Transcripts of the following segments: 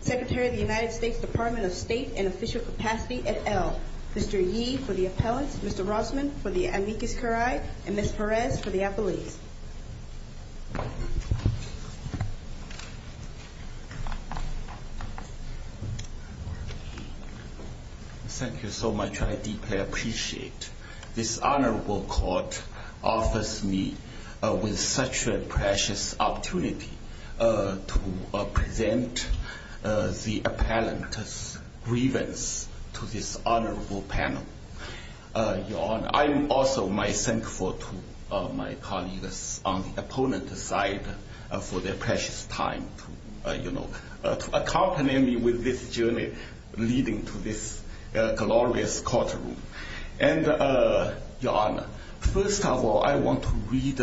Secretary of the United States Department of State and Official Capacity et al. Mr. Yee for the appellants, Mr. Rossman for the amicus curiae, and Ms. Perez for the appellees. Thank you so much. I deeply appreciate this honorable court offers me with such a precious opportunity to present the appellant's grievance to this honorable panel. I'm also thankful to my colleagues on the appellant's side for their precious time to accompany me with this journey leading to this glorious courtroom. Your Honor, first of all, I want to read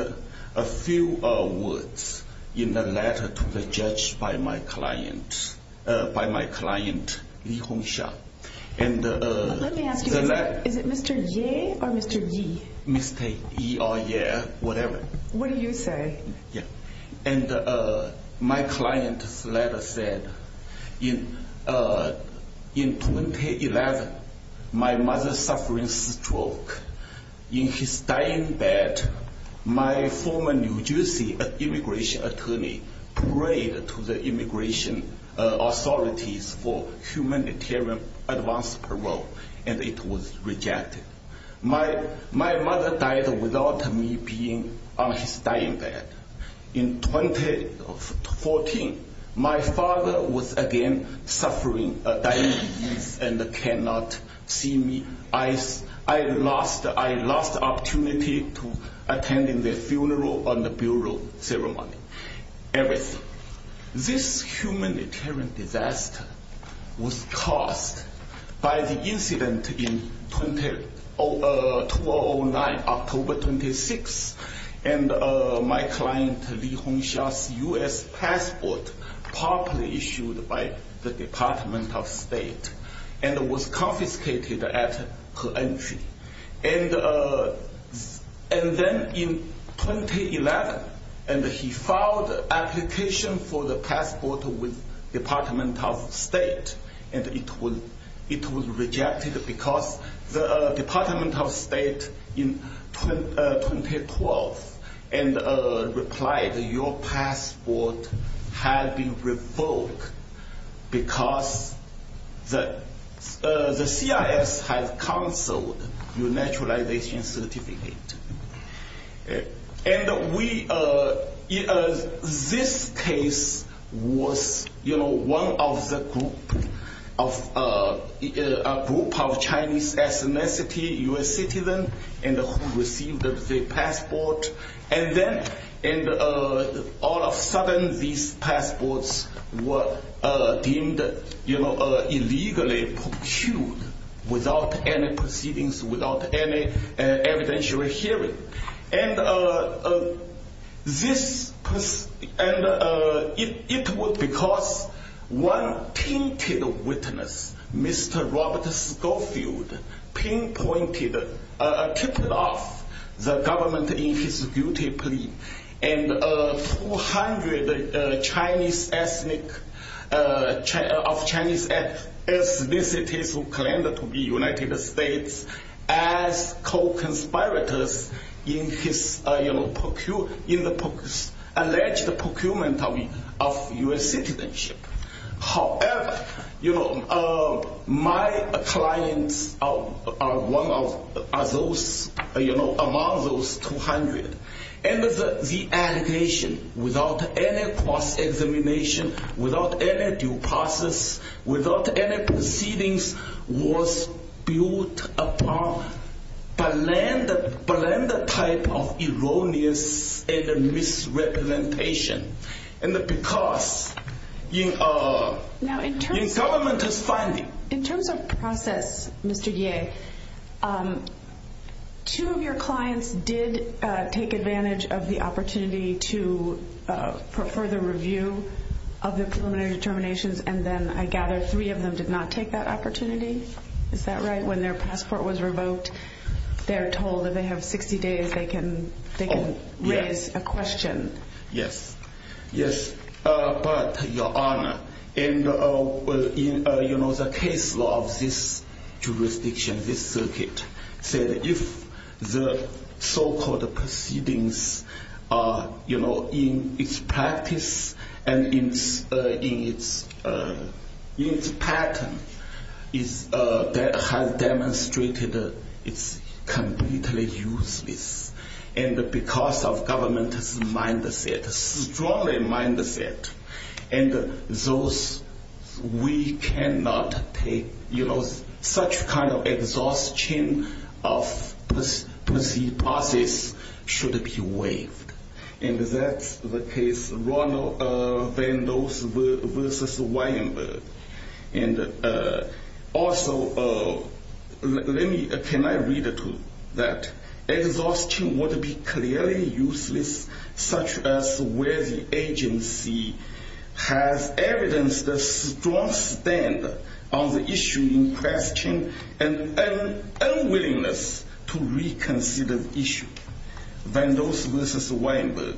a few words in the letter to the judge by my client, by my client, Li Hongxia. Let me ask you, is it Mr. Yee or Mr. Yee? Mr. Yee or Yee, whatever. What do you say? And my client's letter said, in 2011, my mother's suffering stroke. In his dying bed, my former New Jersey immigration attorney prayed to the immigration authorities for humanitarian advance parole, and it was rejected. My mother died without me being on his dying bed. In 2014, my father was again suffering a dying disease and cannot see me. I lost opportunity to attend the funeral and the burial ceremony, everything. This humanitarian disaster was caused by the incident in 2009, October 26, and my client, Li Hongxia's U.S. passport, properly issued by the Department of State, and was confiscated at her entry. And then in 2011, he filed an application for the passport with the Department of State, and it was rejected because the Department of State in 2012 replied, your passport had been revoked because the CIS had canceled your naturalization certificate. And we, this case was, you know, one of the group of, a group of Chinese ethnicity U.S. citizens who received the passport. And then, all of a sudden, these passports were deemed, you know, illegally procured without any proceedings, without any evidentiary hearing. And this, and it was because one tainted witness, Mr. Robert Schofield, pinpointed, tipped off the government in his guilty plea, and 200 Chinese ethnic, of Chinese ethnicities who claimed to be United States as co-conspirators in his, you know, alleged procurement of U.S. citizenship. However, you know, my clients are one of those, you know, among those 200. And the allegation, without any cross-examination, without any due process, without any proceedings, was built upon blended, blended type of erroneous and misrepresentation. And because, you know, the government is filing. In terms of process, Mr. Yeh, two of your clients did take advantage of the opportunity to further review of the preliminary determinations. And then, I gather, three of them did not take that opportunity. Is that right? When their passport was revoked, they're told that they have 60 days they can raise a question. Yes. Yes. But, Your Honor, in, you know, the case law of this jurisdiction, this circuit, said if the so-called proceedings are, you know, in its practice and in its pattern, that has demonstrated it's completely useless. And because of government's mindset, strongly mindset, and those, we cannot take, you know, such kind of exhaustion of proceed process should be waived. And that's the case, Ronald Vandos versus Weinberg. And also, let me, can I read it to that? Exhaustion would be clearly useless, such as where the agency has evidenced a strong stand on the issue in question and unwillingness to reconsider the issue. Vandos versus Weinberg,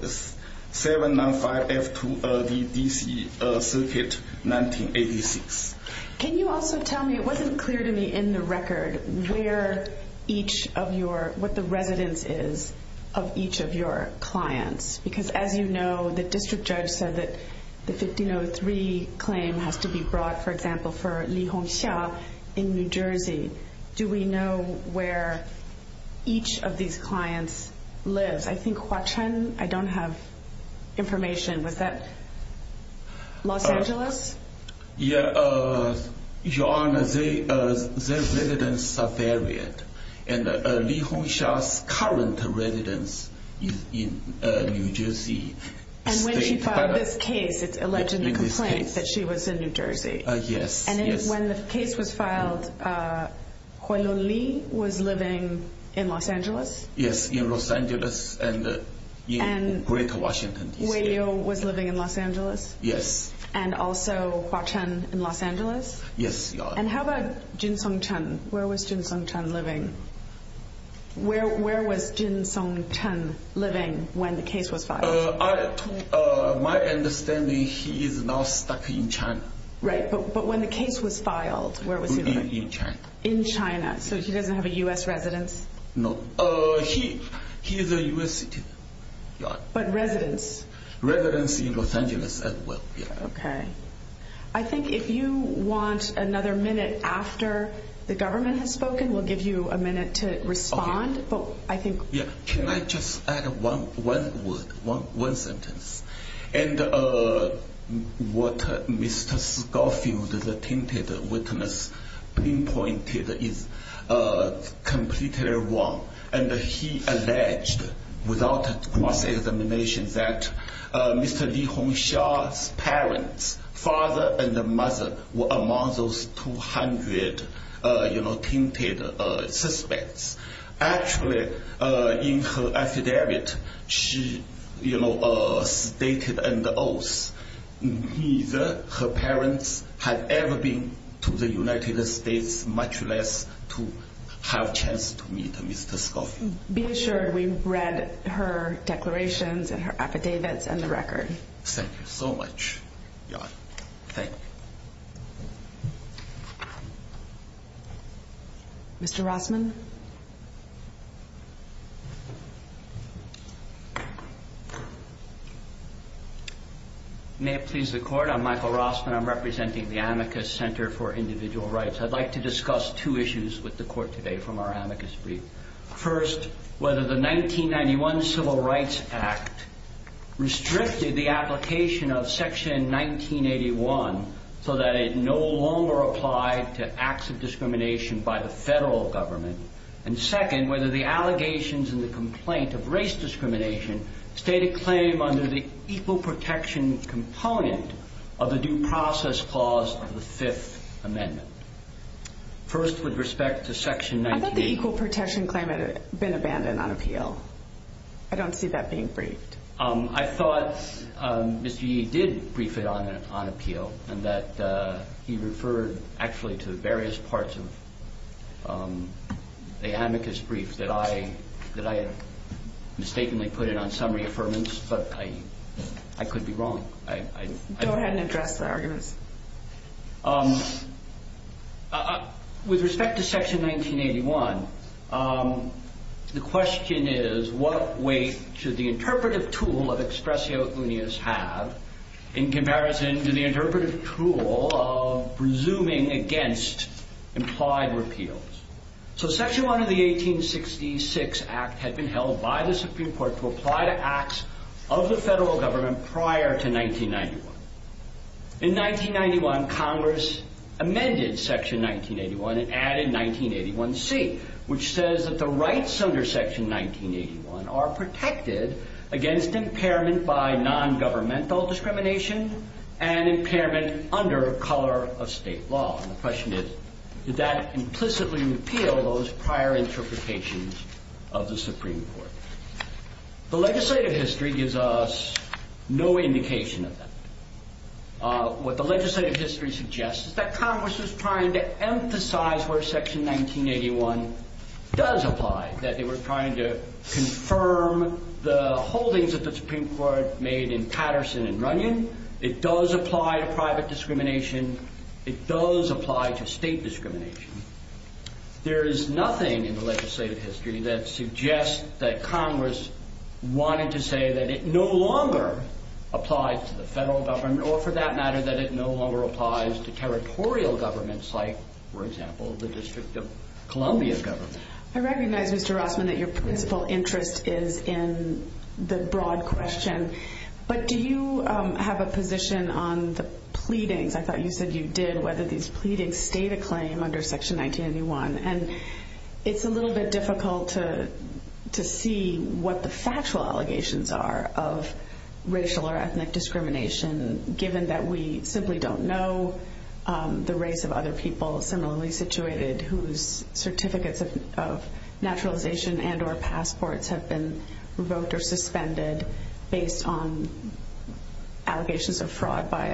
795F2LVDC, Circuit 1986. Can you also tell me, it wasn't clear to me in the record, where each of your, what the residence is of each of your clients? Because as you know, the district judge said that the 1503 claim has to be brought, for example, for Lee Hong Xia in New Jersey. Do we know where each of these clients lives? I think Hua Chun, I don't have information. Was that Los Angeles? Yeah, Your Honor, their residence are varied. And Lee Hong Xia's current residence is in New Jersey. And when she filed this case, it's alleged in the complaint that she was in New Jersey. Yes, yes. And when the case was filed, Hua Chun Li was living in Los Angeles? Yes, in Los Angeles and in Greater Washington, D.C. And Wei Liu was living in Los Angeles? Yes. And also Hua Chun in Los Angeles? Yes, Your Honor. And how about Jin Song Chen? Where was Jin Song Chen living? Where was Jin Song Chen living when the case was filed? My understanding, he is now stuck in China. Right, but when the case was filed, where was he living? In China. In China, so he doesn't have a U.S. residence? No, he is a U.S. citizen. But residence? Residence in Los Angeles as well, yeah. Okay. I think if you want another minute after the government has spoken, we'll give you a minute to respond. Okay. But I think... Yeah, can I just add one word, one sentence? And what Mr. Scofield, the tainted witness, pinpointed is completely wrong. And he alleged, without cross-examination, that Mr. Li Hongxia's parents, father and mother, were among those 200, you know, tainted suspects. Actually, in her affidavit, she, you know, stated and oath, neither her parents had ever been to the United States, much less to have chance to meet Mr. Scofield. Be assured, we read her declarations and her affidavits and the record. Thank you so much, Your Honor. Thank you. Mr. Rossman? May it please the Court, I'm Michael Rossman. I'm representing the Amicus Center for Individual Rights. I'd like to discuss two issues with the Court today from our amicus brief. First, whether the 1991 Civil Rights Act restricted the application of Section 1981 so that it no longer applied to acts of discrimination by the federal government. And second, whether the allegations in the complaint of race discrimination state a claim under the equal protection component of the due process clause of the Fifth Amendment. First, with respect to Section 19- I thought the equal protection claim had been abandoned on appeal. I don't see that being briefed. I thought Mr. Yee did brief it on appeal and that he referred actually to various parts of the amicus brief that I had mistakenly put in on summary affirmance, but I could be wrong. Go ahead and address the arguments. With respect to Section 1981, the question is, what weight should the interpretive tool of expressio unius have in comparison to the interpretive tool of resuming against implied repeals? So Section 1 of the 1866 Act had been held by the Supreme Court to apply to acts of the federal government prior to 1991. In 1991, Congress amended Section 1981 and added 1981C, which says that the rights under Section 1981 are protected against impairment by nongovernmental discrimination and impairment under color of state law. And the question is, did that implicitly repeal those prior interpretations of the Supreme Court? The legislative history gives us no indication of that. What the legislative history suggests is that Congress was trying to emphasize where Section 1981 does apply, that they were trying to confirm the holdings that the Supreme Court made in Patterson and Runyon. It does apply to private discrimination. It does apply to state discrimination. There is nothing in the legislative history that suggests that Congress wanted to say that it no longer applies to the federal government or, for that matter, that it no longer applies to territorial governments like, for example, the District of Columbia government. I recognize, Mr. Rossman, that your principal interest is in the broad question. But do you have a position on the pleadings? I thought you said you did, whether these pleadings state a claim under Section 1981. It's a little bit difficult to see what the factual allegations are of racial or ethnic discrimination, given that we simply don't know the race of other people similarly situated whose certificates of naturalization and or passports have been revoked or suspended based on allegations of fraud by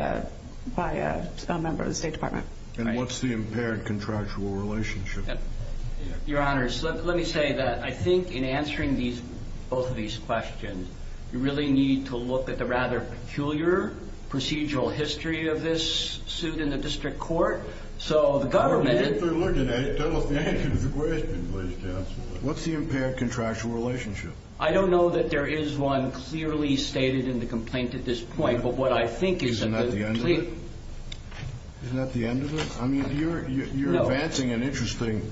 a member of the State Department. And what's the impaired contractual relationship? Your Honor, let me say that I think in answering both of these questions, you really need to look at the rather peculiar procedural history of this suit in the district court. So the government... Well, if they're looking at it, that'll answer the question, please, counsel. What's the impaired contractual relationship? I don't know that there is one clearly stated in the complaint at this point. But what I think is... Isn't that the end of it? Isn't that the end of it? I mean, you're advancing an interesting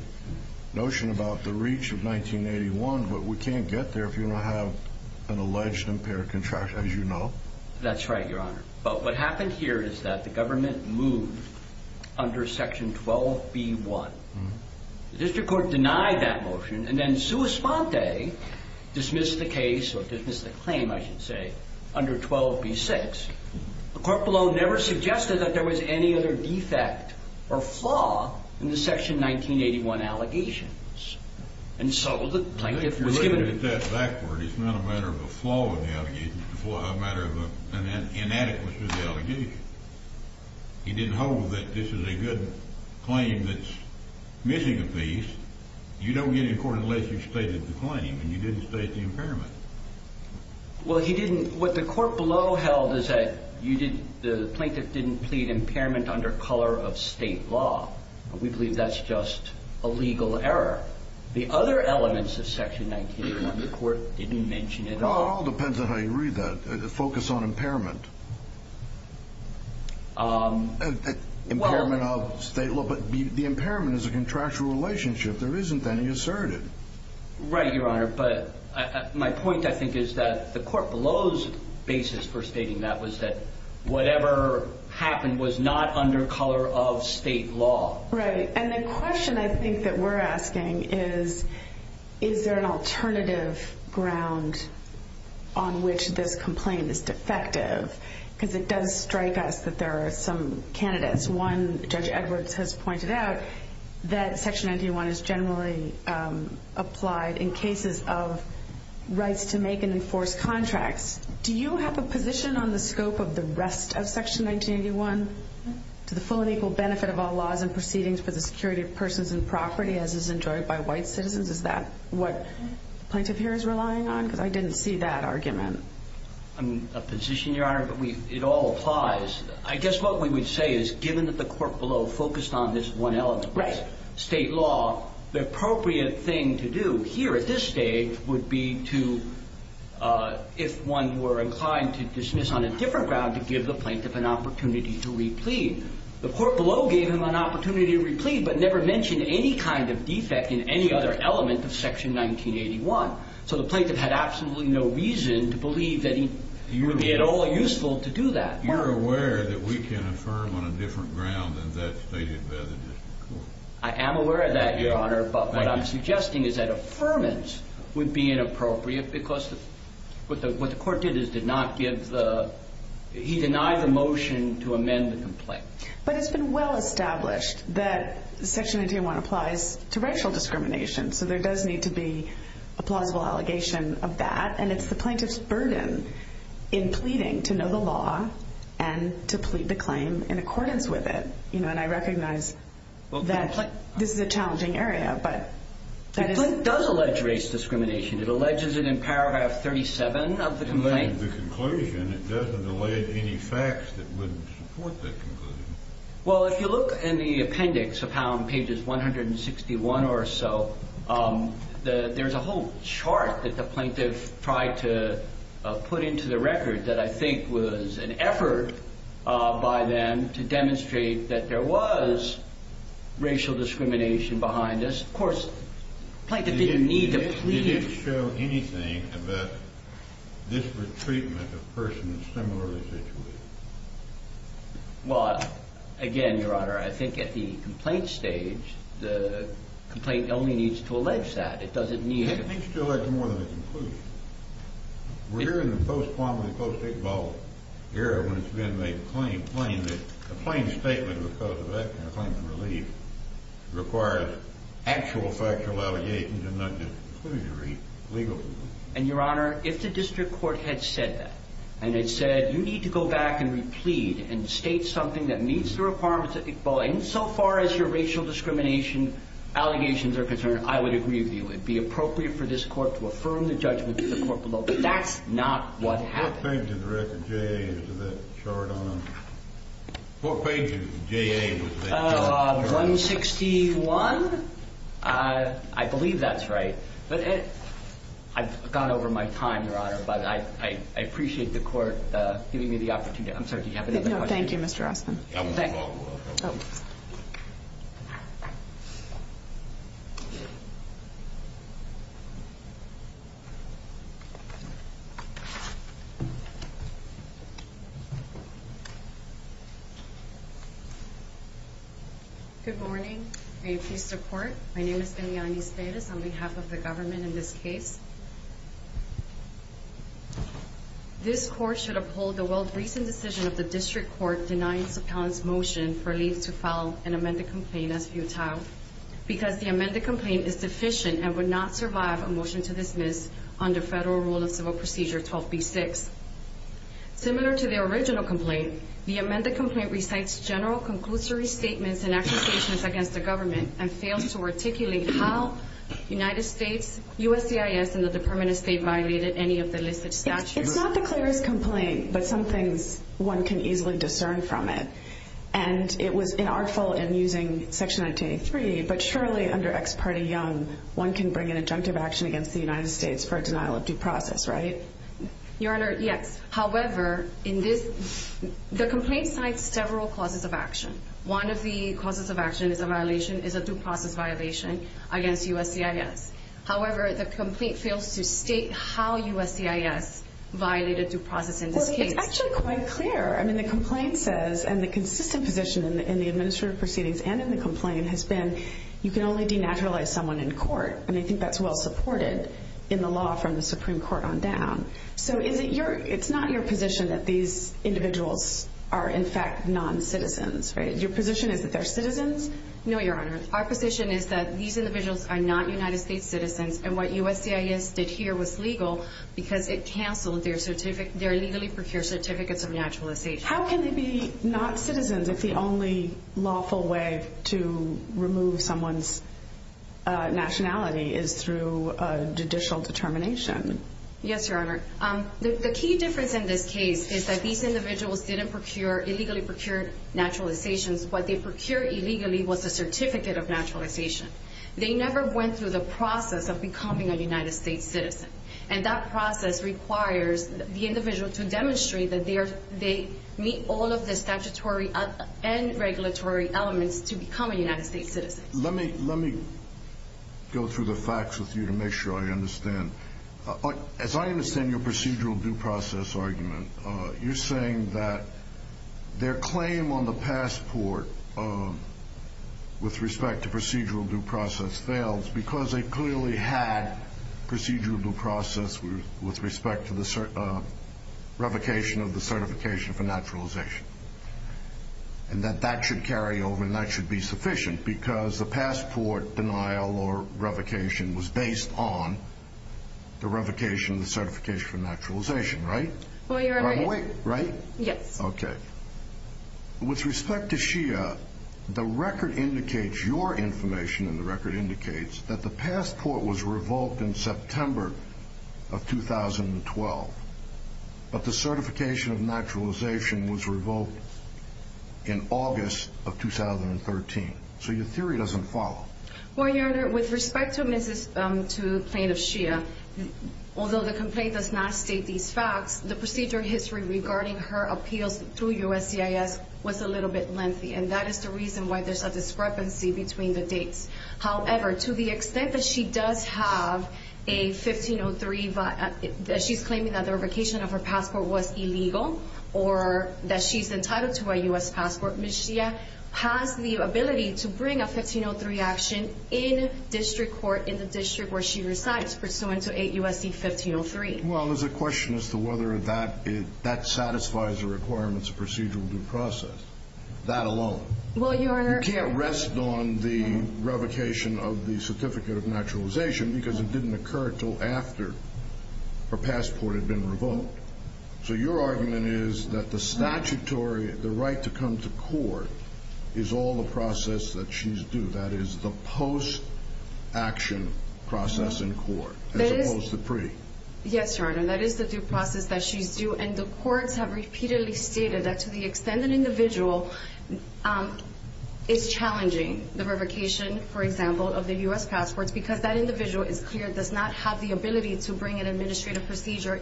notion about the reach of 1981, but we can't get there if you don't have an alleged impaired contractual relationship, as you know. That's right, Your Honor. But what happened here is that the government moved under Section 12b-1. The district court denied that motion and then sua sponte dismissed the case or dismissed the claim, I should say, under 12b-6. The court below never suggested that there was any other defect or flaw in the Section 1981 allegations. And so the plaintiff was given... You're looking at that backward. It's not a matter of a flaw in the allegations. It's a matter of an inadequacy of the allegations. He didn't hold that this is a good claim that's missing a piece. You don't get in court unless you've stated the claim and you didn't state the impairment. Well, he didn't. What the court below held is that the plaintiff didn't plead impairment under color of state law. We believe that's just a legal error. The other elements of Section 1981, the court didn't mention at all. Well, it all depends on how you read that, the focus on impairment. Impairment of state law, but the impairment is a contractual relationship. There isn't any assertive. Right, Your Honor, but my point, I think, is that the court below's basis for stating that was that whatever happened was not under color of state law. Right, and the question I think that we're asking is, is there an alternative ground on which this complaint is defective? Because it does strike us that there are some candidates. One, Judge Edwards has pointed out that Section 1981 is generally applied in cases of rights to make and enforce contracts. Do you have a position on the scope of the rest of Section 1981, to the full and equal benefit of all laws and proceedings for the security of persons and property, as is enjoyed by white citizens? Is that what the plaintiff here is relying on? Because I didn't see that argument. A position, Your Honor, but it all applies. I guess what we would say is, given that the court below focused on this one element, state law, the appropriate thing to do here at this stage would be to, if one were inclined to dismiss on a different ground, to give the plaintiff an opportunity to replead. The court below gave him an opportunity to replead, but never mentioned any kind of defect in any other element of Section 1981. So the plaintiff had absolutely no reason to believe that it would be at all useful to do that. You're aware that we can affirm on a different ground than that stated by the district court? I am aware of that, Your Honor, but what I'm suggesting is that affirmance would be inappropriate because what the court did is deny the motion to amend the complaint. But it's been well established that Section 1981 applies to racial discrimination, so there does need to be a plausible allegation of that, and it's the plaintiff's burden in pleading to know the law and to plead the claim in accordance with it. And I recognize that this is a challenging area. The complaint does allege race discrimination. It alleges it in paragraph 37 of the complaint. It doesn't allege any facts that wouldn't support that conclusion. Well, if you look in the appendix of Hound, pages 161 or so, there's a whole chart that the plaintiff tried to put into the record that I think was an effort by them to demonstrate that there was racial discrimination behind this. Of course, the plaintiff didn't need to plead. Did it show anything about this retreatment of persons similarly situated? Well, again, Your Honor, I think at the complaint stage, the complaint only needs to allege that. It doesn't need to... It needs to allege more than the conclusion. We're in the post-quantum and post-state law era when it's been made plain, plain, that a plain statement because of that kind of claim to relief requires actual factual allegations and not just a conclusion to be legal. And, Your Honor, if the district court had said that, and it said you need to go back and replead and state something that meets the requirements of ICBOA insofar as your racial discrimination allegations are concerned, I would agree with you. It would be appropriate for this court to affirm the judgment to the court below. But that's not what happened. What page of the record, J.A., is that chart on? What page of J.A. was that chart on? 161? I believe that's right. I've gone over my time, Your Honor, but I appreciate the court giving me the opportunity. I'm sorry, do you have another question? No, thank you, Mr. Rossman. Thank you. Good morning. May you please support? My name is Eliani Spedes on behalf of the government in this case. This court should uphold the well-recent decision of the district court denying Sapan's motion for relief to file an amended complaint as futile because the amended complaint is deficient and would not survive a motion to dismiss under federal rule of civil procedure 12b-6. Similar to the original complaint, the amended complaint recites general conclusory statements and accusations against the government and fails to articulate how the United States, USCIS, and the Department of State violated any of the listed statutes. It's not the clearest complaint, but some things one can easily discern from it. And it was inartful in using Section 1983, but surely under Ex parte Young, one can bring an injunctive action against the United States for a denial of due process, right? Your Honor, yes. However, the complaint cites several causes of action. One of the causes of action is a violation, is a due process violation against USCIS. However, the complaint fails to state how USCIS violated due process in this case. Well, it's actually quite clear. I mean, the complaint says, and the consistent position in the administrative proceedings and in the complaint has been, you can only denaturalize someone in court. And I think that's well supported in the law from the Supreme Court on down. So it's not your position that these individuals are, in fact, non-citizens, right? Your position is that they're citizens? No, Your Honor. Our position is that these individuals are not United States citizens, and what USCIS did here was legal because it canceled their legally procured certificates of naturalization. How can they be not citizens if the only lawful way to remove someone's nationality is through judicial determination? Judge Chapman. Yes, Your Honor. The key difference in this case is that these individuals didn't procure, illegally procure naturalizations. What they procured illegally was a certificate of naturalization. They never went through the process of becoming a United States citizen. And that process requires the individual to demonstrate that they meet all of the statutory and regulatory elements to become a United States citizen. Let me go through the facts with you to make sure I understand. As I understand your procedural due process argument, you're saying that their claim on the passport with respect to procedural due process fails because they clearly had procedural due process with respect to the revocation of the certification for naturalization and that that should carry over and that should be sufficient because the passport denial or revocation was based on the revocation of the certification for naturalization, right? Well, Your Honor. Right? Yes. Okay. With respect to Shia, the record indicates, your information in the record indicates, that the passport was revoked in September of 2012, but the certification of naturalization was revoked in August of 2013. So your theory doesn't follow. Well, Your Honor, with respect to plaintiff Shia, although the complaint does not state these facts, the procedural history regarding her appeals through USCIS was a little bit lengthy and that is the reason why there's a discrepancy between the dates. However, to the extent that she does have a 1503, that she's claiming that the revocation of her passport was illegal or that she's entitled to a U.S. passport, Ms. Shia has the ability to bring a 1503 action in district court in the district where she resides, pursuant to 8 U.S.C. 1503. Well, there's a question as to whether that satisfies the requirements of procedural due process. That alone. Well, Your Honor. You can't rest on the revocation of the certificate of naturalization because it didn't occur until after her passport had been revoked. So your argument is that the statutory, the right to come to court, is all the process that she's due. That is the post-action process in court as opposed to pre. Yes, Your Honor, that is the due process that she's due and the courts have repeatedly stated that to the extent an individual is challenging the revocation, for example, of their U.S. passports because that individual is clear, does not have the ability to bring an administrative procedure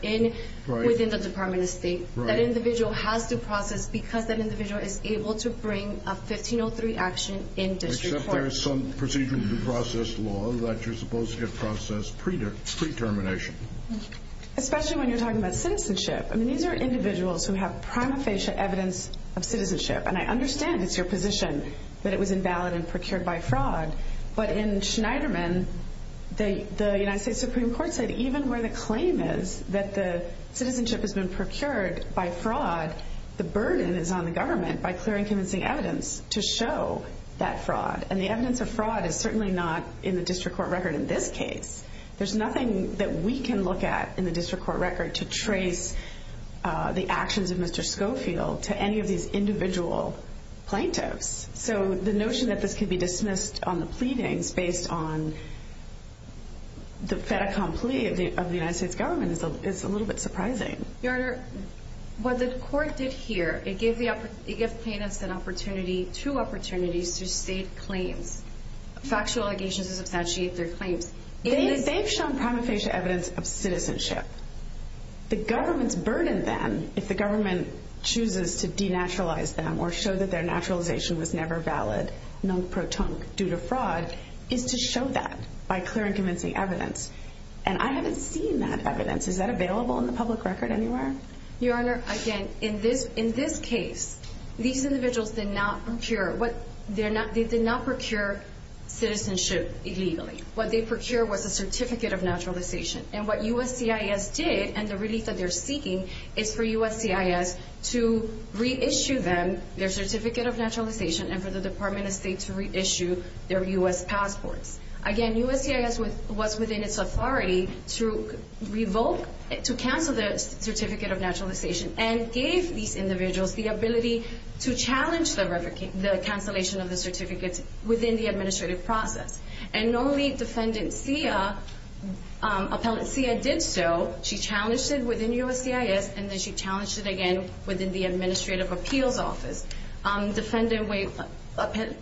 within the Department of State. That individual has due process because that individual is able to bring a 1503 action in district court. Except there is some procedural due process law that you're supposed to get processed pre-termination. Especially when you're talking about citizenship. I mean, these are individuals who have prima facie evidence of citizenship. And I understand it's your position that it was invalid and procured by fraud. But in Schneiderman, the United States Supreme Court said even where the claim is that the citizenship has been procured by fraud, the burden is on the government by clearing convincing evidence to show that fraud. And the evidence of fraud is certainly not in the district court record in this case. There's nothing that we can look at in the district court record to trace the actions of Mr. Schofield to any of these individual plaintiffs. So the notion that this could be dismissed on the pleadings based on the fait accompli of the United States government is a little bit surprising. Your Honor, what the court did here, it gave plaintiffs an opportunity, two opportunities to state claims. Factual allegations to substantiate their claims. They've shown prima facie evidence of citizenship. The government's burden then, if the government chooses to denaturalize them or show that their naturalization was never valid, non pro tonque, due to fraud, is to show that by clearing convincing evidence. And I haven't seen that evidence. Is that available in the public record anywhere? Your Honor, again, in this case, these individuals did not procure citizenship illegally. What they procured was a certificate of naturalization. And what USCIS did, and the relief that they're seeking, is for USCIS to reissue them their certificate of naturalization and for the Department of State to reissue their U.S. passports. Again, USCIS was within its authority to revoke, to cancel the certificate of naturalization and gave these individuals the ability to challenge the cancellation of the certificate within the administrative process. And normally, Defendant Sia, Appellant Sia, did so. She challenged it within USCIS, and then she challenged it again within the Administrative Appeals Office. Defendant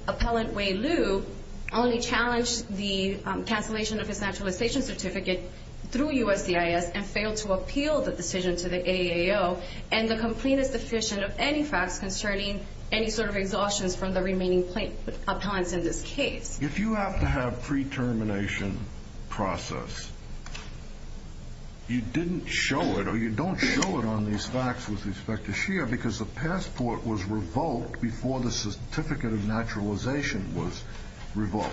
Appellant Wei Liu only challenged the cancellation of his naturalization certificate through USCIS and failed to appeal the decision to the AAO. And the complaint is deficient of any facts concerning any sort of exhaustions from the remaining appellants in this case. If you have to have pre-termination process, you didn't show it or you don't show it on these facts with respect to Sia because the passport was revoked before the certificate of naturalization was revoked.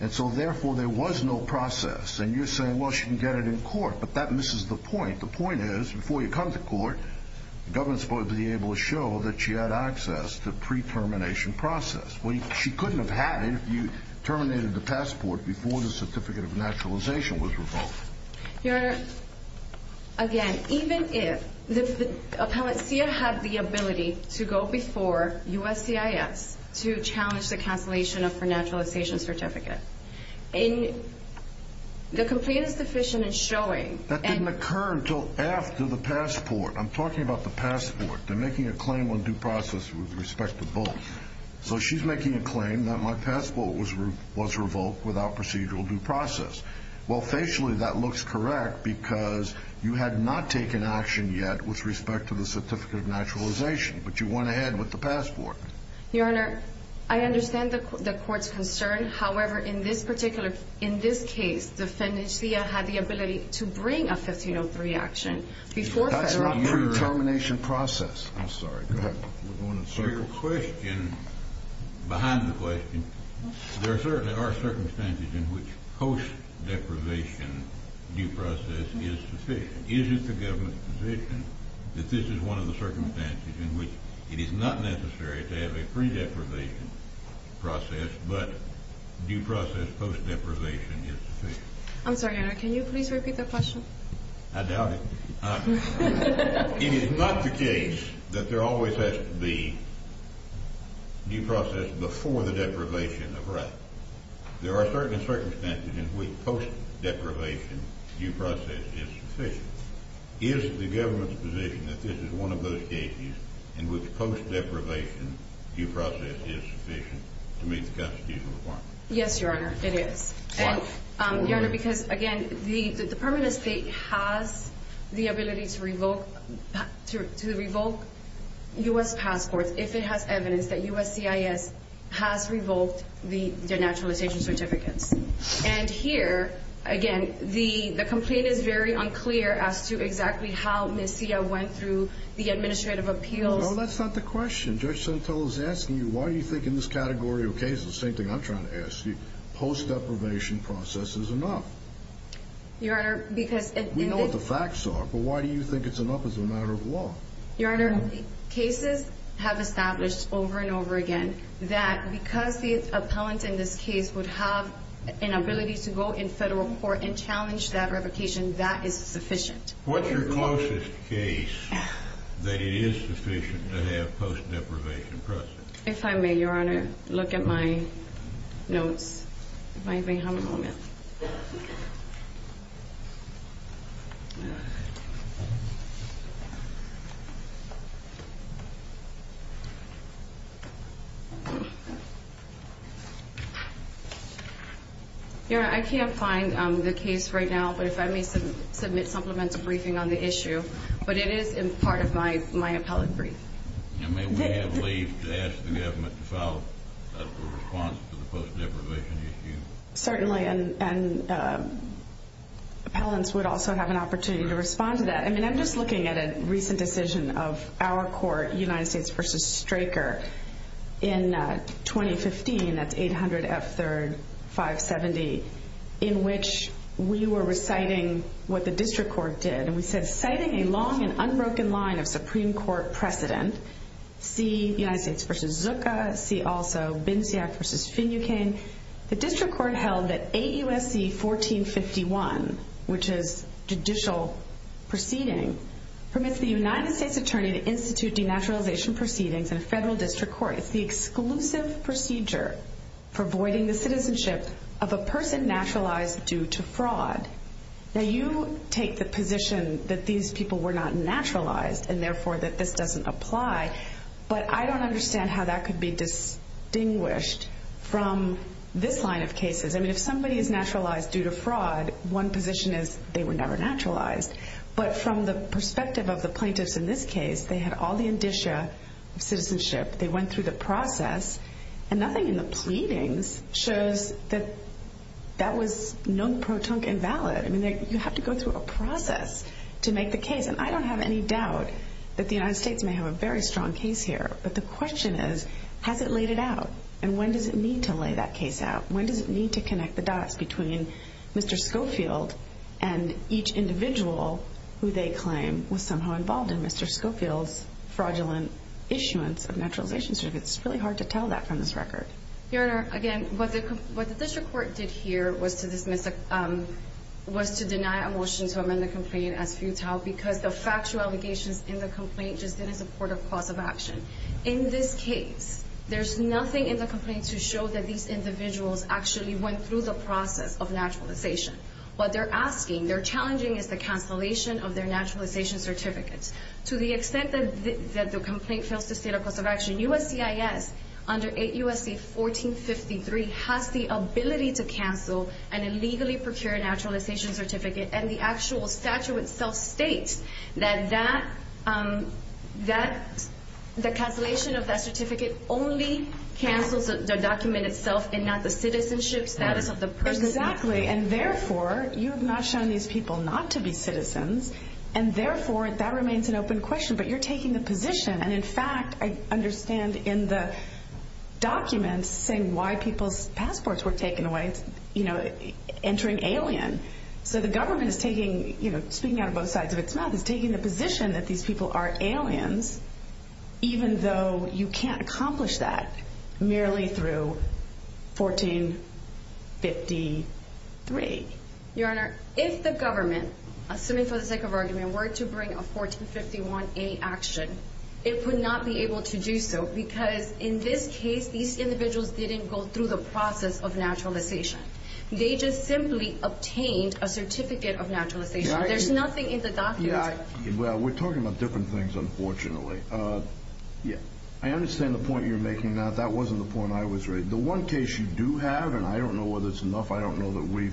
And so, therefore, there was no process. And you're saying, well, she can get it in court, but that misses the point. The point is, before you come to court, the government's supposed to be able to show that she had access to pre-termination process. Well, she couldn't have had it if you terminated the passport before the certificate of naturalization was revoked. Your Honor, again, even if the Appellant Sia had the ability to go before USCIS to challenge the cancellation of her naturalization certificate, the complaint is deficient in showing. That didn't occur until after the passport. I'm talking about the passport. They're making a claim on due process with respect to both. So she's making a claim that my passport was revoked without procedural due process. Well, facially, that looks correct because you had not taken action yet with respect to the certificate of naturalization, but you went ahead with the passport. Your Honor, I understand the Court's concern. However, in this particular case, the defendant Sia had the ability to bring a 1503 action before federal court. That's not pre-termination process. I'm sorry. Go ahead. Your question, behind the question, there certainly are circumstances in which post-deprivation due process is sufficient. Is it the government's position that this is one of the circumstances in which it is not necessary to have a pre-deprivation process, but due process post-deprivation is sufficient? I'm sorry, Your Honor. Can you please repeat that question? I doubt it. It is not the case that there always has to be due process before the deprivation of right. There are certain circumstances in which post-deprivation due process is sufficient. Is it the government's position that this is one of those cases in which post-deprivation due process is sufficient to meet the constitutional requirement? Yes, Your Honor, it is. Why? Your Honor, because, again, the Department of State has the ability to revoke U.S. passports if it has evidence that USCIS has revoked the denaturalization certificates. And here, again, the complaint is very unclear as to exactly how Ms. Sia went through the administrative appeals. No, that's not the question. Judge Santel is asking you, why do you think in this category of cases, the same thing I'm trying to ask you, post-deprivation process is enough? Your Honor, because... We know what the facts are, but why do you think it's enough as a matter of law? Your Honor, cases have established over and over again that because the appellant in this case would have an ability to go in federal court and challenge that revocation, that is sufficient. What's your closest case that it is sufficient to have post-deprivation process? If I may, Your Honor, look at my notes. If I may have a moment. Your Honor, I can't find the case right now, but if I may submit supplemental briefing on the issue. But it is part of my appellate brief. May we have leave to ask the government to file a response to the post-deprivation issue? Certainly, and appellants would also have an opportunity to respond to that. I'm just looking at a recent decision of our court, United States v. Straker, in 2015, that's 800 F. 3rd 570, in which we were reciting what the district court did. And we said, citing a long and unbroken line of Supreme Court precedent, see United States v. Zooka, see also Binsiak v. Finucane, the district court held that AUSC 1451, which is judicial proceeding, permits the United States attorney to institute denaturalization proceedings in a federal district court. It's the exclusive procedure for voiding the citizenship of a person naturalized due to fraud. Now you take the position that these people were not naturalized, and therefore that this doesn't apply, but I don't understand how that could be distinguished from this line of cases. I mean, if somebody is naturalized due to fraud, one position is they were never naturalized. But from the perspective of the plaintiffs in this case, they had all the indicia of citizenship, they went through the process, and nothing in the pleadings shows that that was non-protunct and valid. I mean, you have to go through a process to make the case. And I don't have any doubt that the United States may have a very strong case here, but the question is, has it laid it out? And when does it need to lay that case out? When does it need to connect the dots between Mr. Schofield and each individual who they claim was somehow involved in Mr. Schofield's fraudulent issuance of naturalization certificates? It's really hard to tell that from this record. Your Honor, again, what the district court did here was to deny a motion to amend the complaint as futile because the factual allegations in the complaint just didn't support a cause of action. In this case, there's nothing in the complaint to show that these individuals actually went through the process of naturalization. What they're asking, they're challenging is the cancellation of their naturalization certificates. To the extent that the complaint fails to state a cause of action, USCIS under 8 U.S.C. 1453 has the ability to cancel an illegally procured naturalization certificate, and the actual statute itself states that the cancellation of that certificate only cancels the document itself and not the citizenship status of the person. Exactly, and therefore, you have not shown these people not to be citizens, and therefore, that remains an open question. But you're taking the position, and in fact, I understand in the document, saying why people's passports were taken away, you know, entering alien. So the government is taking, you know, speaking out of both sides of its mouth, is taking the position that these people are aliens, even though you can't accomplish that merely through 1453. Your Honor, if the government, assuming for the sake of argument, were to bring a 1451A action, it would not be able to do so, because in this case, these individuals didn't go through the process of naturalization. They just simply obtained a certificate of naturalization. There's nothing in the document. Well, we're talking about different things, unfortunately. I understand the point you're making. Now, that wasn't the point I was raising. The one case you do have, and I don't know whether it's enough, I don't know that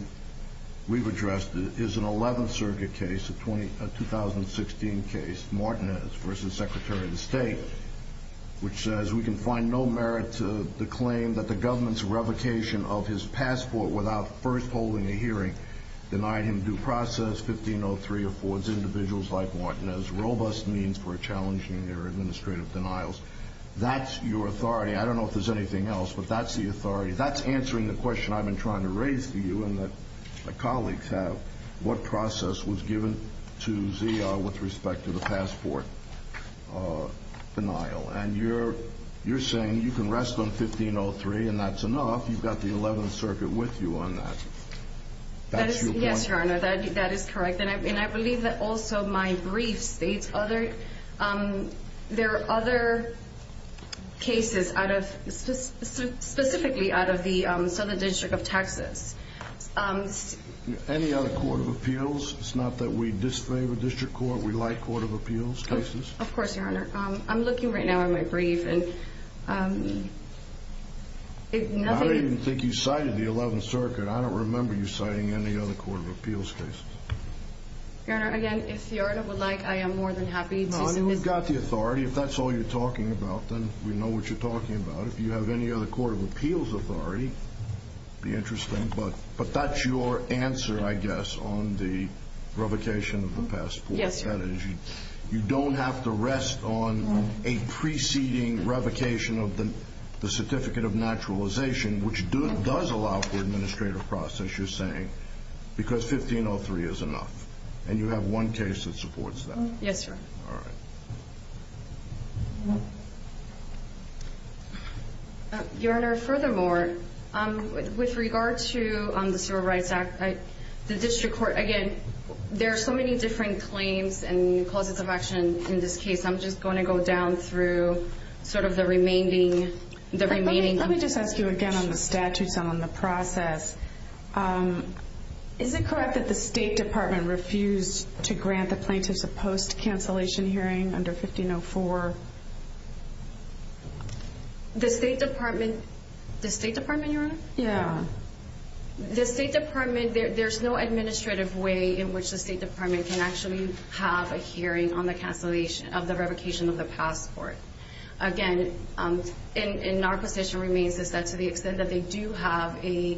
we've addressed it, is an 11th Circuit case, a 2016 case, Martinez v. Secretary of State, which says we can find no merit to the claim that the government's revocation of his passport without first holding a hearing denied him due process, 1503 affords individuals like Martinez robust means for challenging their administrative denials. That's your authority. I don't know if there's anything else, but that's the authority. That's answering the question I've been trying to raise for you and that my colleagues have, what process was given to ZR with respect to the passport denial. And you're saying you can rest on 1503 and that's enough. You've got the 11th Circuit with you on that. Yes, Your Honor, that is correct. And I believe that also my brief states there are other cases specifically out of the Southern District of Texas. Any other court of appeals? It's not that we disfavor district court. We like court of appeals cases. Of course, Your Honor. I'm looking right now at my brief. I don't even think you cited the 11th Circuit. I don't remember you citing any other court of appeals case. Your Honor, again, if Your Honor would like, I am more than happy to submit. You've got the authority. If that's all you're talking about, then we know what you're talking about. If you have any other court of appeals authority, it would be interesting. But that's your answer, I guess, on the revocation of the passport. Yes, Your Honor. You don't have to rest on a preceding revocation of the certificate of naturalization, which does allow for administrative process, you're saying, because 1503 is enough. And you have one case that supports that. Yes, Your Honor. All right. Your Honor, furthermore, with regard to the Civil Rights Act, the district court, again, there are so many different claims and clauses of action in this case. I'm just going to go down through sort of the remaining. Let me just ask you again on the statutes and on the process. Is it correct that the State Department refused to grant the plaintiffs a post-cancellation hearing under 1504? The State Department? The State Department, Your Honor? Yes. The State Department, there's no administrative way in which the State Department can actually have a hearing on the cancellation of the revocation of the passport. Again, and our position remains is that to the extent that they do have a,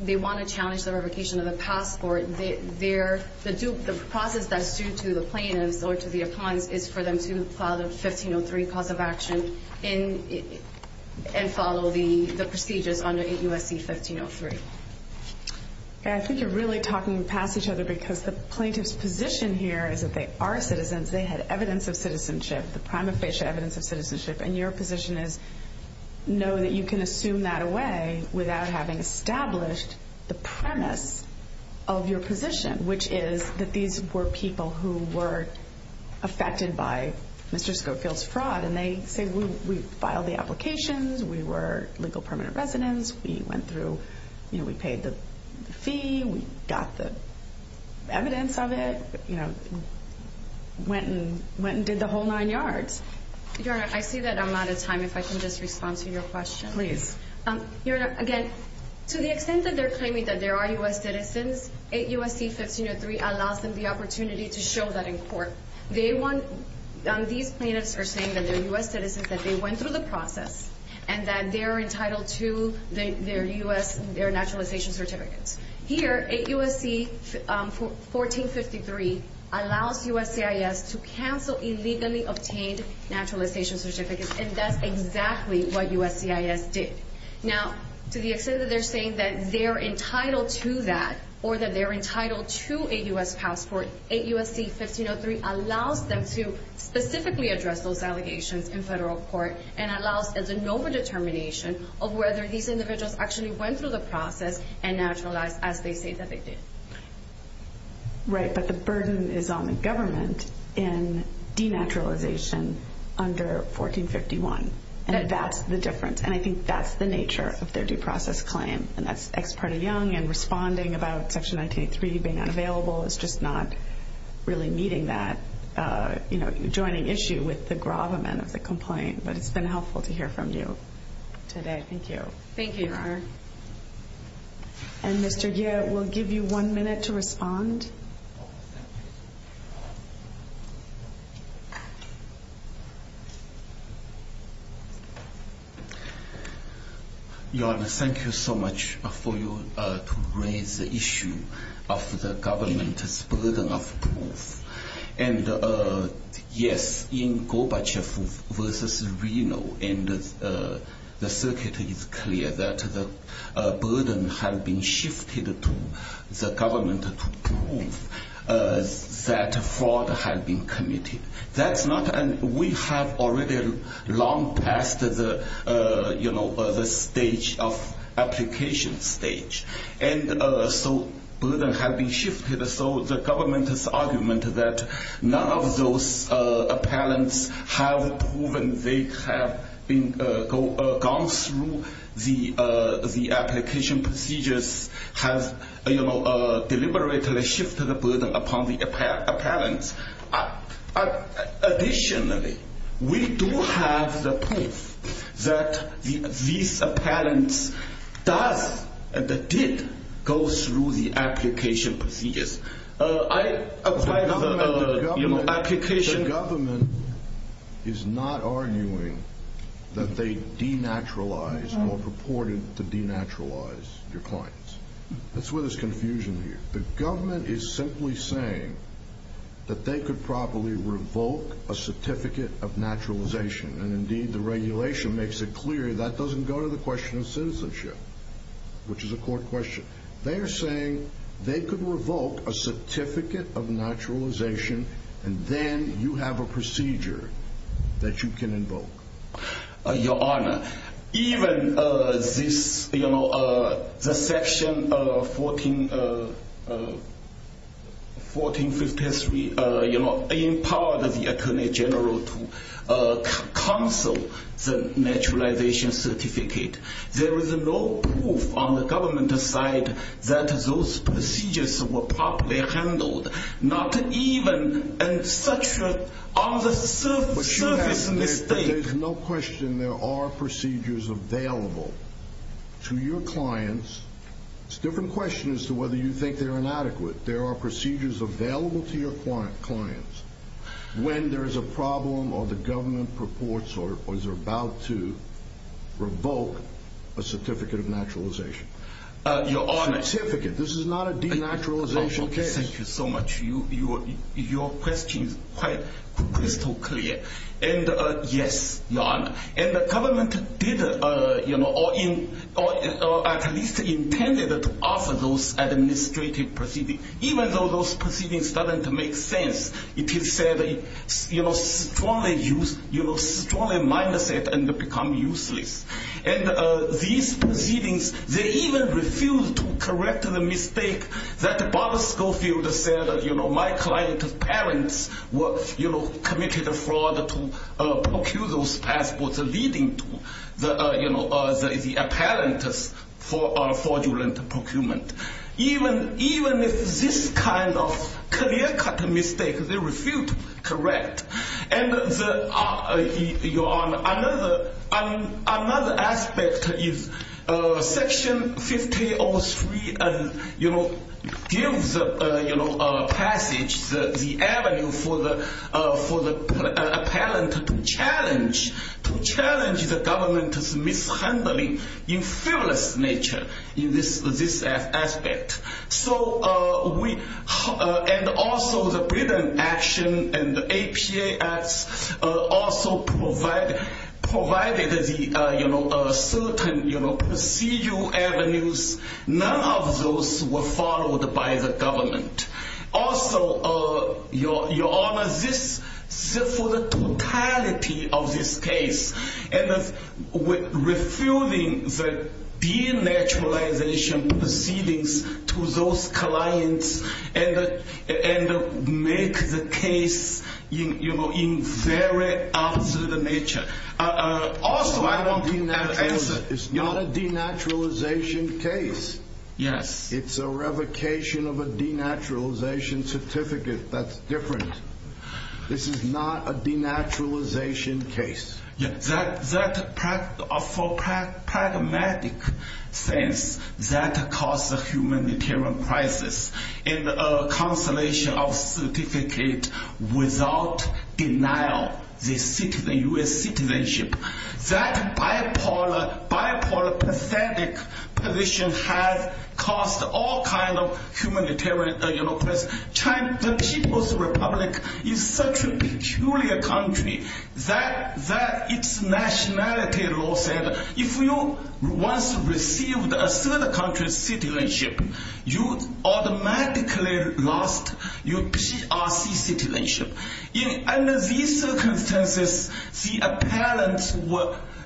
they want to challenge the revocation of the passport, the process that's due to the plaintiffs or to the appliance is for them to file the 1503 cause of action and follow the procedures under USC 1503. Okay. I think you're really talking past each other because the plaintiff's position here is that they are citizens. They had evidence of citizenship, the prima facie evidence of citizenship, and your position is know that you can assume that away without having established the premise of your position, which is that these were people who were affected by Mr. Schofield's fraud, and they say we filed the applications, we were legal permanent residents, we went through, you know, we paid the fee, we got the evidence of it. You know, went and did the whole nine yards. Your Honor, I see that I'm out of time. If I can just respond to your question. Please. Your Honor, again, to the extent that they're claiming that there are U.S. citizens, USC 1503 allows them the opportunity to show that in court. They want, these plaintiffs are saying that they're U.S. citizens, that they went through the process, and that they're entitled to their U.S., their naturalization certificates. Here, USC 1453 allows USCIS to cancel illegally obtained naturalization certificates, and that's exactly what USCIS did. Now, to the extent that they're saying that they're entitled to that, or that they're entitled to a U.S. passport, USC 1503 allows them to specifically address those allegations in federal court, and allows the known determination of whether these individuals actually went through the process and naturalized as they say that they did. Right, but the burden is on the government in denaturalization under 1451, and that's the difference, and I think that's the nature of their due process claim, and that's Ex parte Young and responding about Section 1983 being unavailable. It's just not really meeting that, you know, joining issue with the gravamen of the complaint, but it's been helpful to hear from you today. Thank you. Thank you, Your Honor. And Mr. Yeh, we'll give you one minute to respond. Your Honor, thank you so much for you to raise the issue of the government's burden of proof. And, yes, in Gorbachev versus Reno, and the circuit is clear that the burden had been shifted to the government to prove that fraud had been committed. That's not and we have already long passed the, you know, the stage of application stage. And so burden had been shifted. So the government's argument that none of those appellants have proven they have gone through the application procedures has, you know, deliberately shifted the burden upon the appellants. Additionally, we do have the proof that these appellants does and did go through the application procedures. I apply the application. The government is not arguing that they denaturalized or purported to denaturalize your clients. That's where there's confusion here. The government is simply saying that they could probably revoke a certificate of naturalization. And, indeed, the regulation makes it clear that doesn't go to the question of citizenship, which is a court question. They're saying they could revoke a certificate of naturalization. And then you have a procedure that you can invoke. Your Honor, even this, you know, the section 1453, you know, empowered the attorney general to cancel the naturalization certificate. There is no proof on the government's side that those procedures were properly handled. Not even in such a on the surface mistake. There's no question there are procedures available to your clients. It's a different question as to whether you think they're inadequate. There are procedures available to your clients when there is a problem or the government purports or is about to revoke a certificate of naturalization. Your Honor. Certificate. This is not a denaturalization case. Thank you so much. Your question is quite crystal clear. And, yes, Your Honor. And the government did, you know, or at least intended to offer those administrative proceedings. Even though those proceedings doesn't make sense, it is said, you know, strongly use, you know, strongly minus it and become useless. And these proceedings, they even refused to correct the mistake that Bob Schofield said, you know, my client's parents were, you know, committed a fraud to procure those passports leading to the, you know, the apparent fraudulent procurement. Even if this kind of clear cut mistake, they refused to correct. And, Your Honor, another aspect is Section 1503, you know, gives, you know, passage, the avenue for the apparent challenge, to challenge the government's mishandling in fearless nature in this aspect. So we, and also the Britain action and the APA acts also provided, provided the, you know, certain, you know, procedural avenues. None of those were followed by the government. Also, Your Honor, this, for the totality of this case, and refuting the denaturalization proceedings to those clients and make the case, you know, in very absurd nature. It's not a denaturalization case. Yes. It's a revocation of a denaturalization certificate. That's different. This is not a denaturalization case. Yes, that, for pragmatic sense, that caused a humanitarian crisis. And a cancellation of certificate without denial, the U.S. citizenship. That bipolar, pathetic position has caused all kind of humanitarian, you know, crisis. At the same time, the People's Republic is such a peculiar country that its nationality law said if you once received a third country's citizenship, you automatically lost your PRC citizenship. Under these circumstances, the apparent,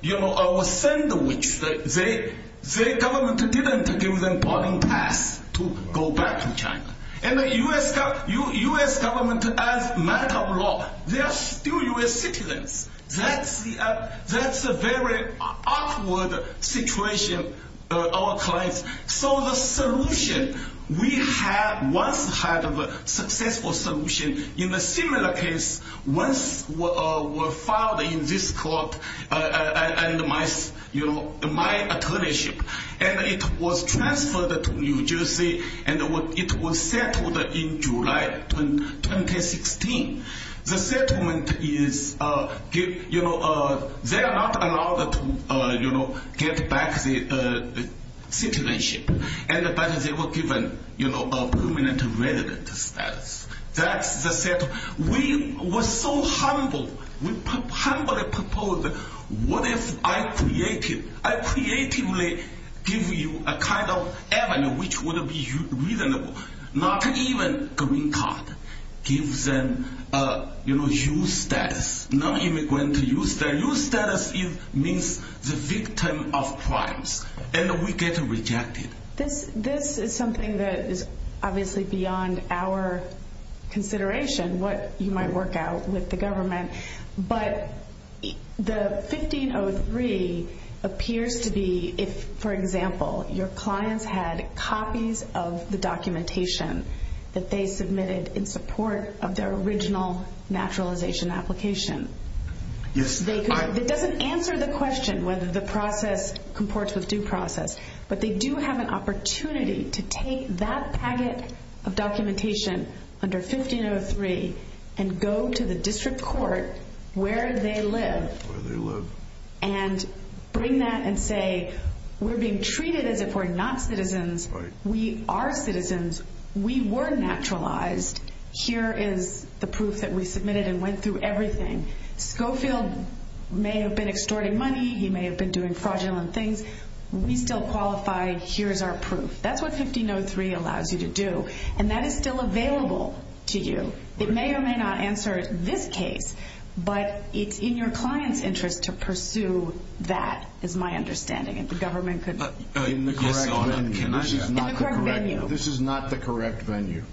you know, sandwich, the government didn't give them voting pass to go back to China. And the U.S. government, as matter of law, they are still U.S. citizens. That's a very awkward situation, our clients. So the solution, we have once had a successful solution in a similar case once were filed in this court and my, you know, my attorneyship. And it was transferred to New Jersey and it was settled in July 2016. The settlement is, you know, they are not allowed to, you know, get back the citizenship. But they were given, you know, a permanent resident status. That's the settlement. We were so humble. We humbly proposed, what if I creatively give you a kind of avenue which would be reasonable? Not even green card. Give them, you know, U.S. status. Non-immigrant U.S. status. U.S. status means the victim of crimes. And we get rejected. This is something that is obviously beyond our consideration, what you might work out with the government. But the 1503 appears to be if, for example, your clients had copies of the documentation that they submitted in support of their original naturalization application. Yes. It doesn't answer the question whether the process comports with due process. But they do have an opportunity to take that packet of documentation under 1503 and go to the district court where they live. Where they live. And bring that and say, we're being treated as if we're not citizens. We are citizens. We were naturalized. Here is the proof that we submitted and went through everything. Schofield may have been extorting money. He may have been doing fraudulent things. We still qualify. Here is our proof. That's what 1503 allows you to do. And that is still available to you. It may or may not answer this case. But it's in your client's interest to pursue that is my understanding. If the government could. In the correct venue. In the correct venue. This is not the correct venue.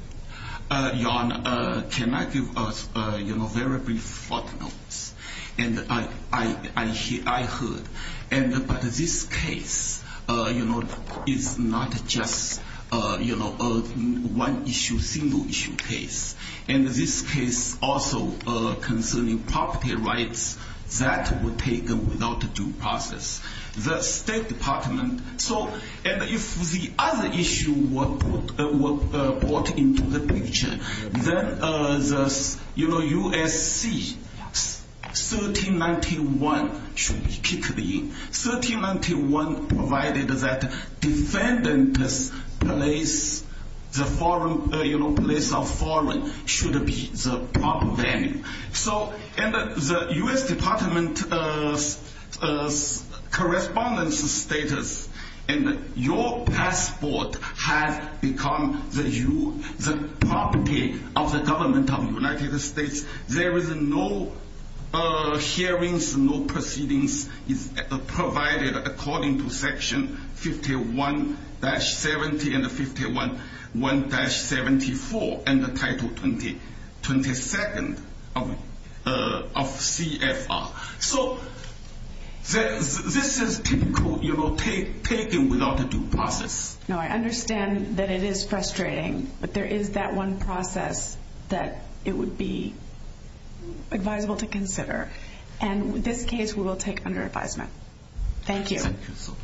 Your Honor, can I give a very brief footnote? And I heard. But this case is not just one issue, single issue case. And this case also concerning property rights that were taken without due process. The State Department. And if the other issue were brought into the picture. Then the USC 1391 should be kicked in. 1391 provided that defendant's place of foreign should be the proper venue. And the U.S. Department of Correspondence status. And your passport has become the property of the government of the United States. There is no hearings, no proceedings provided according to section 51-70 and 51-74. And the title 22nd of CFR. So this is typical taking without due process. No, I understand that it is frustrating. But there is that one process that it would be advisable to consider. And this case we will take under advisement. Thank you. Thank you so much.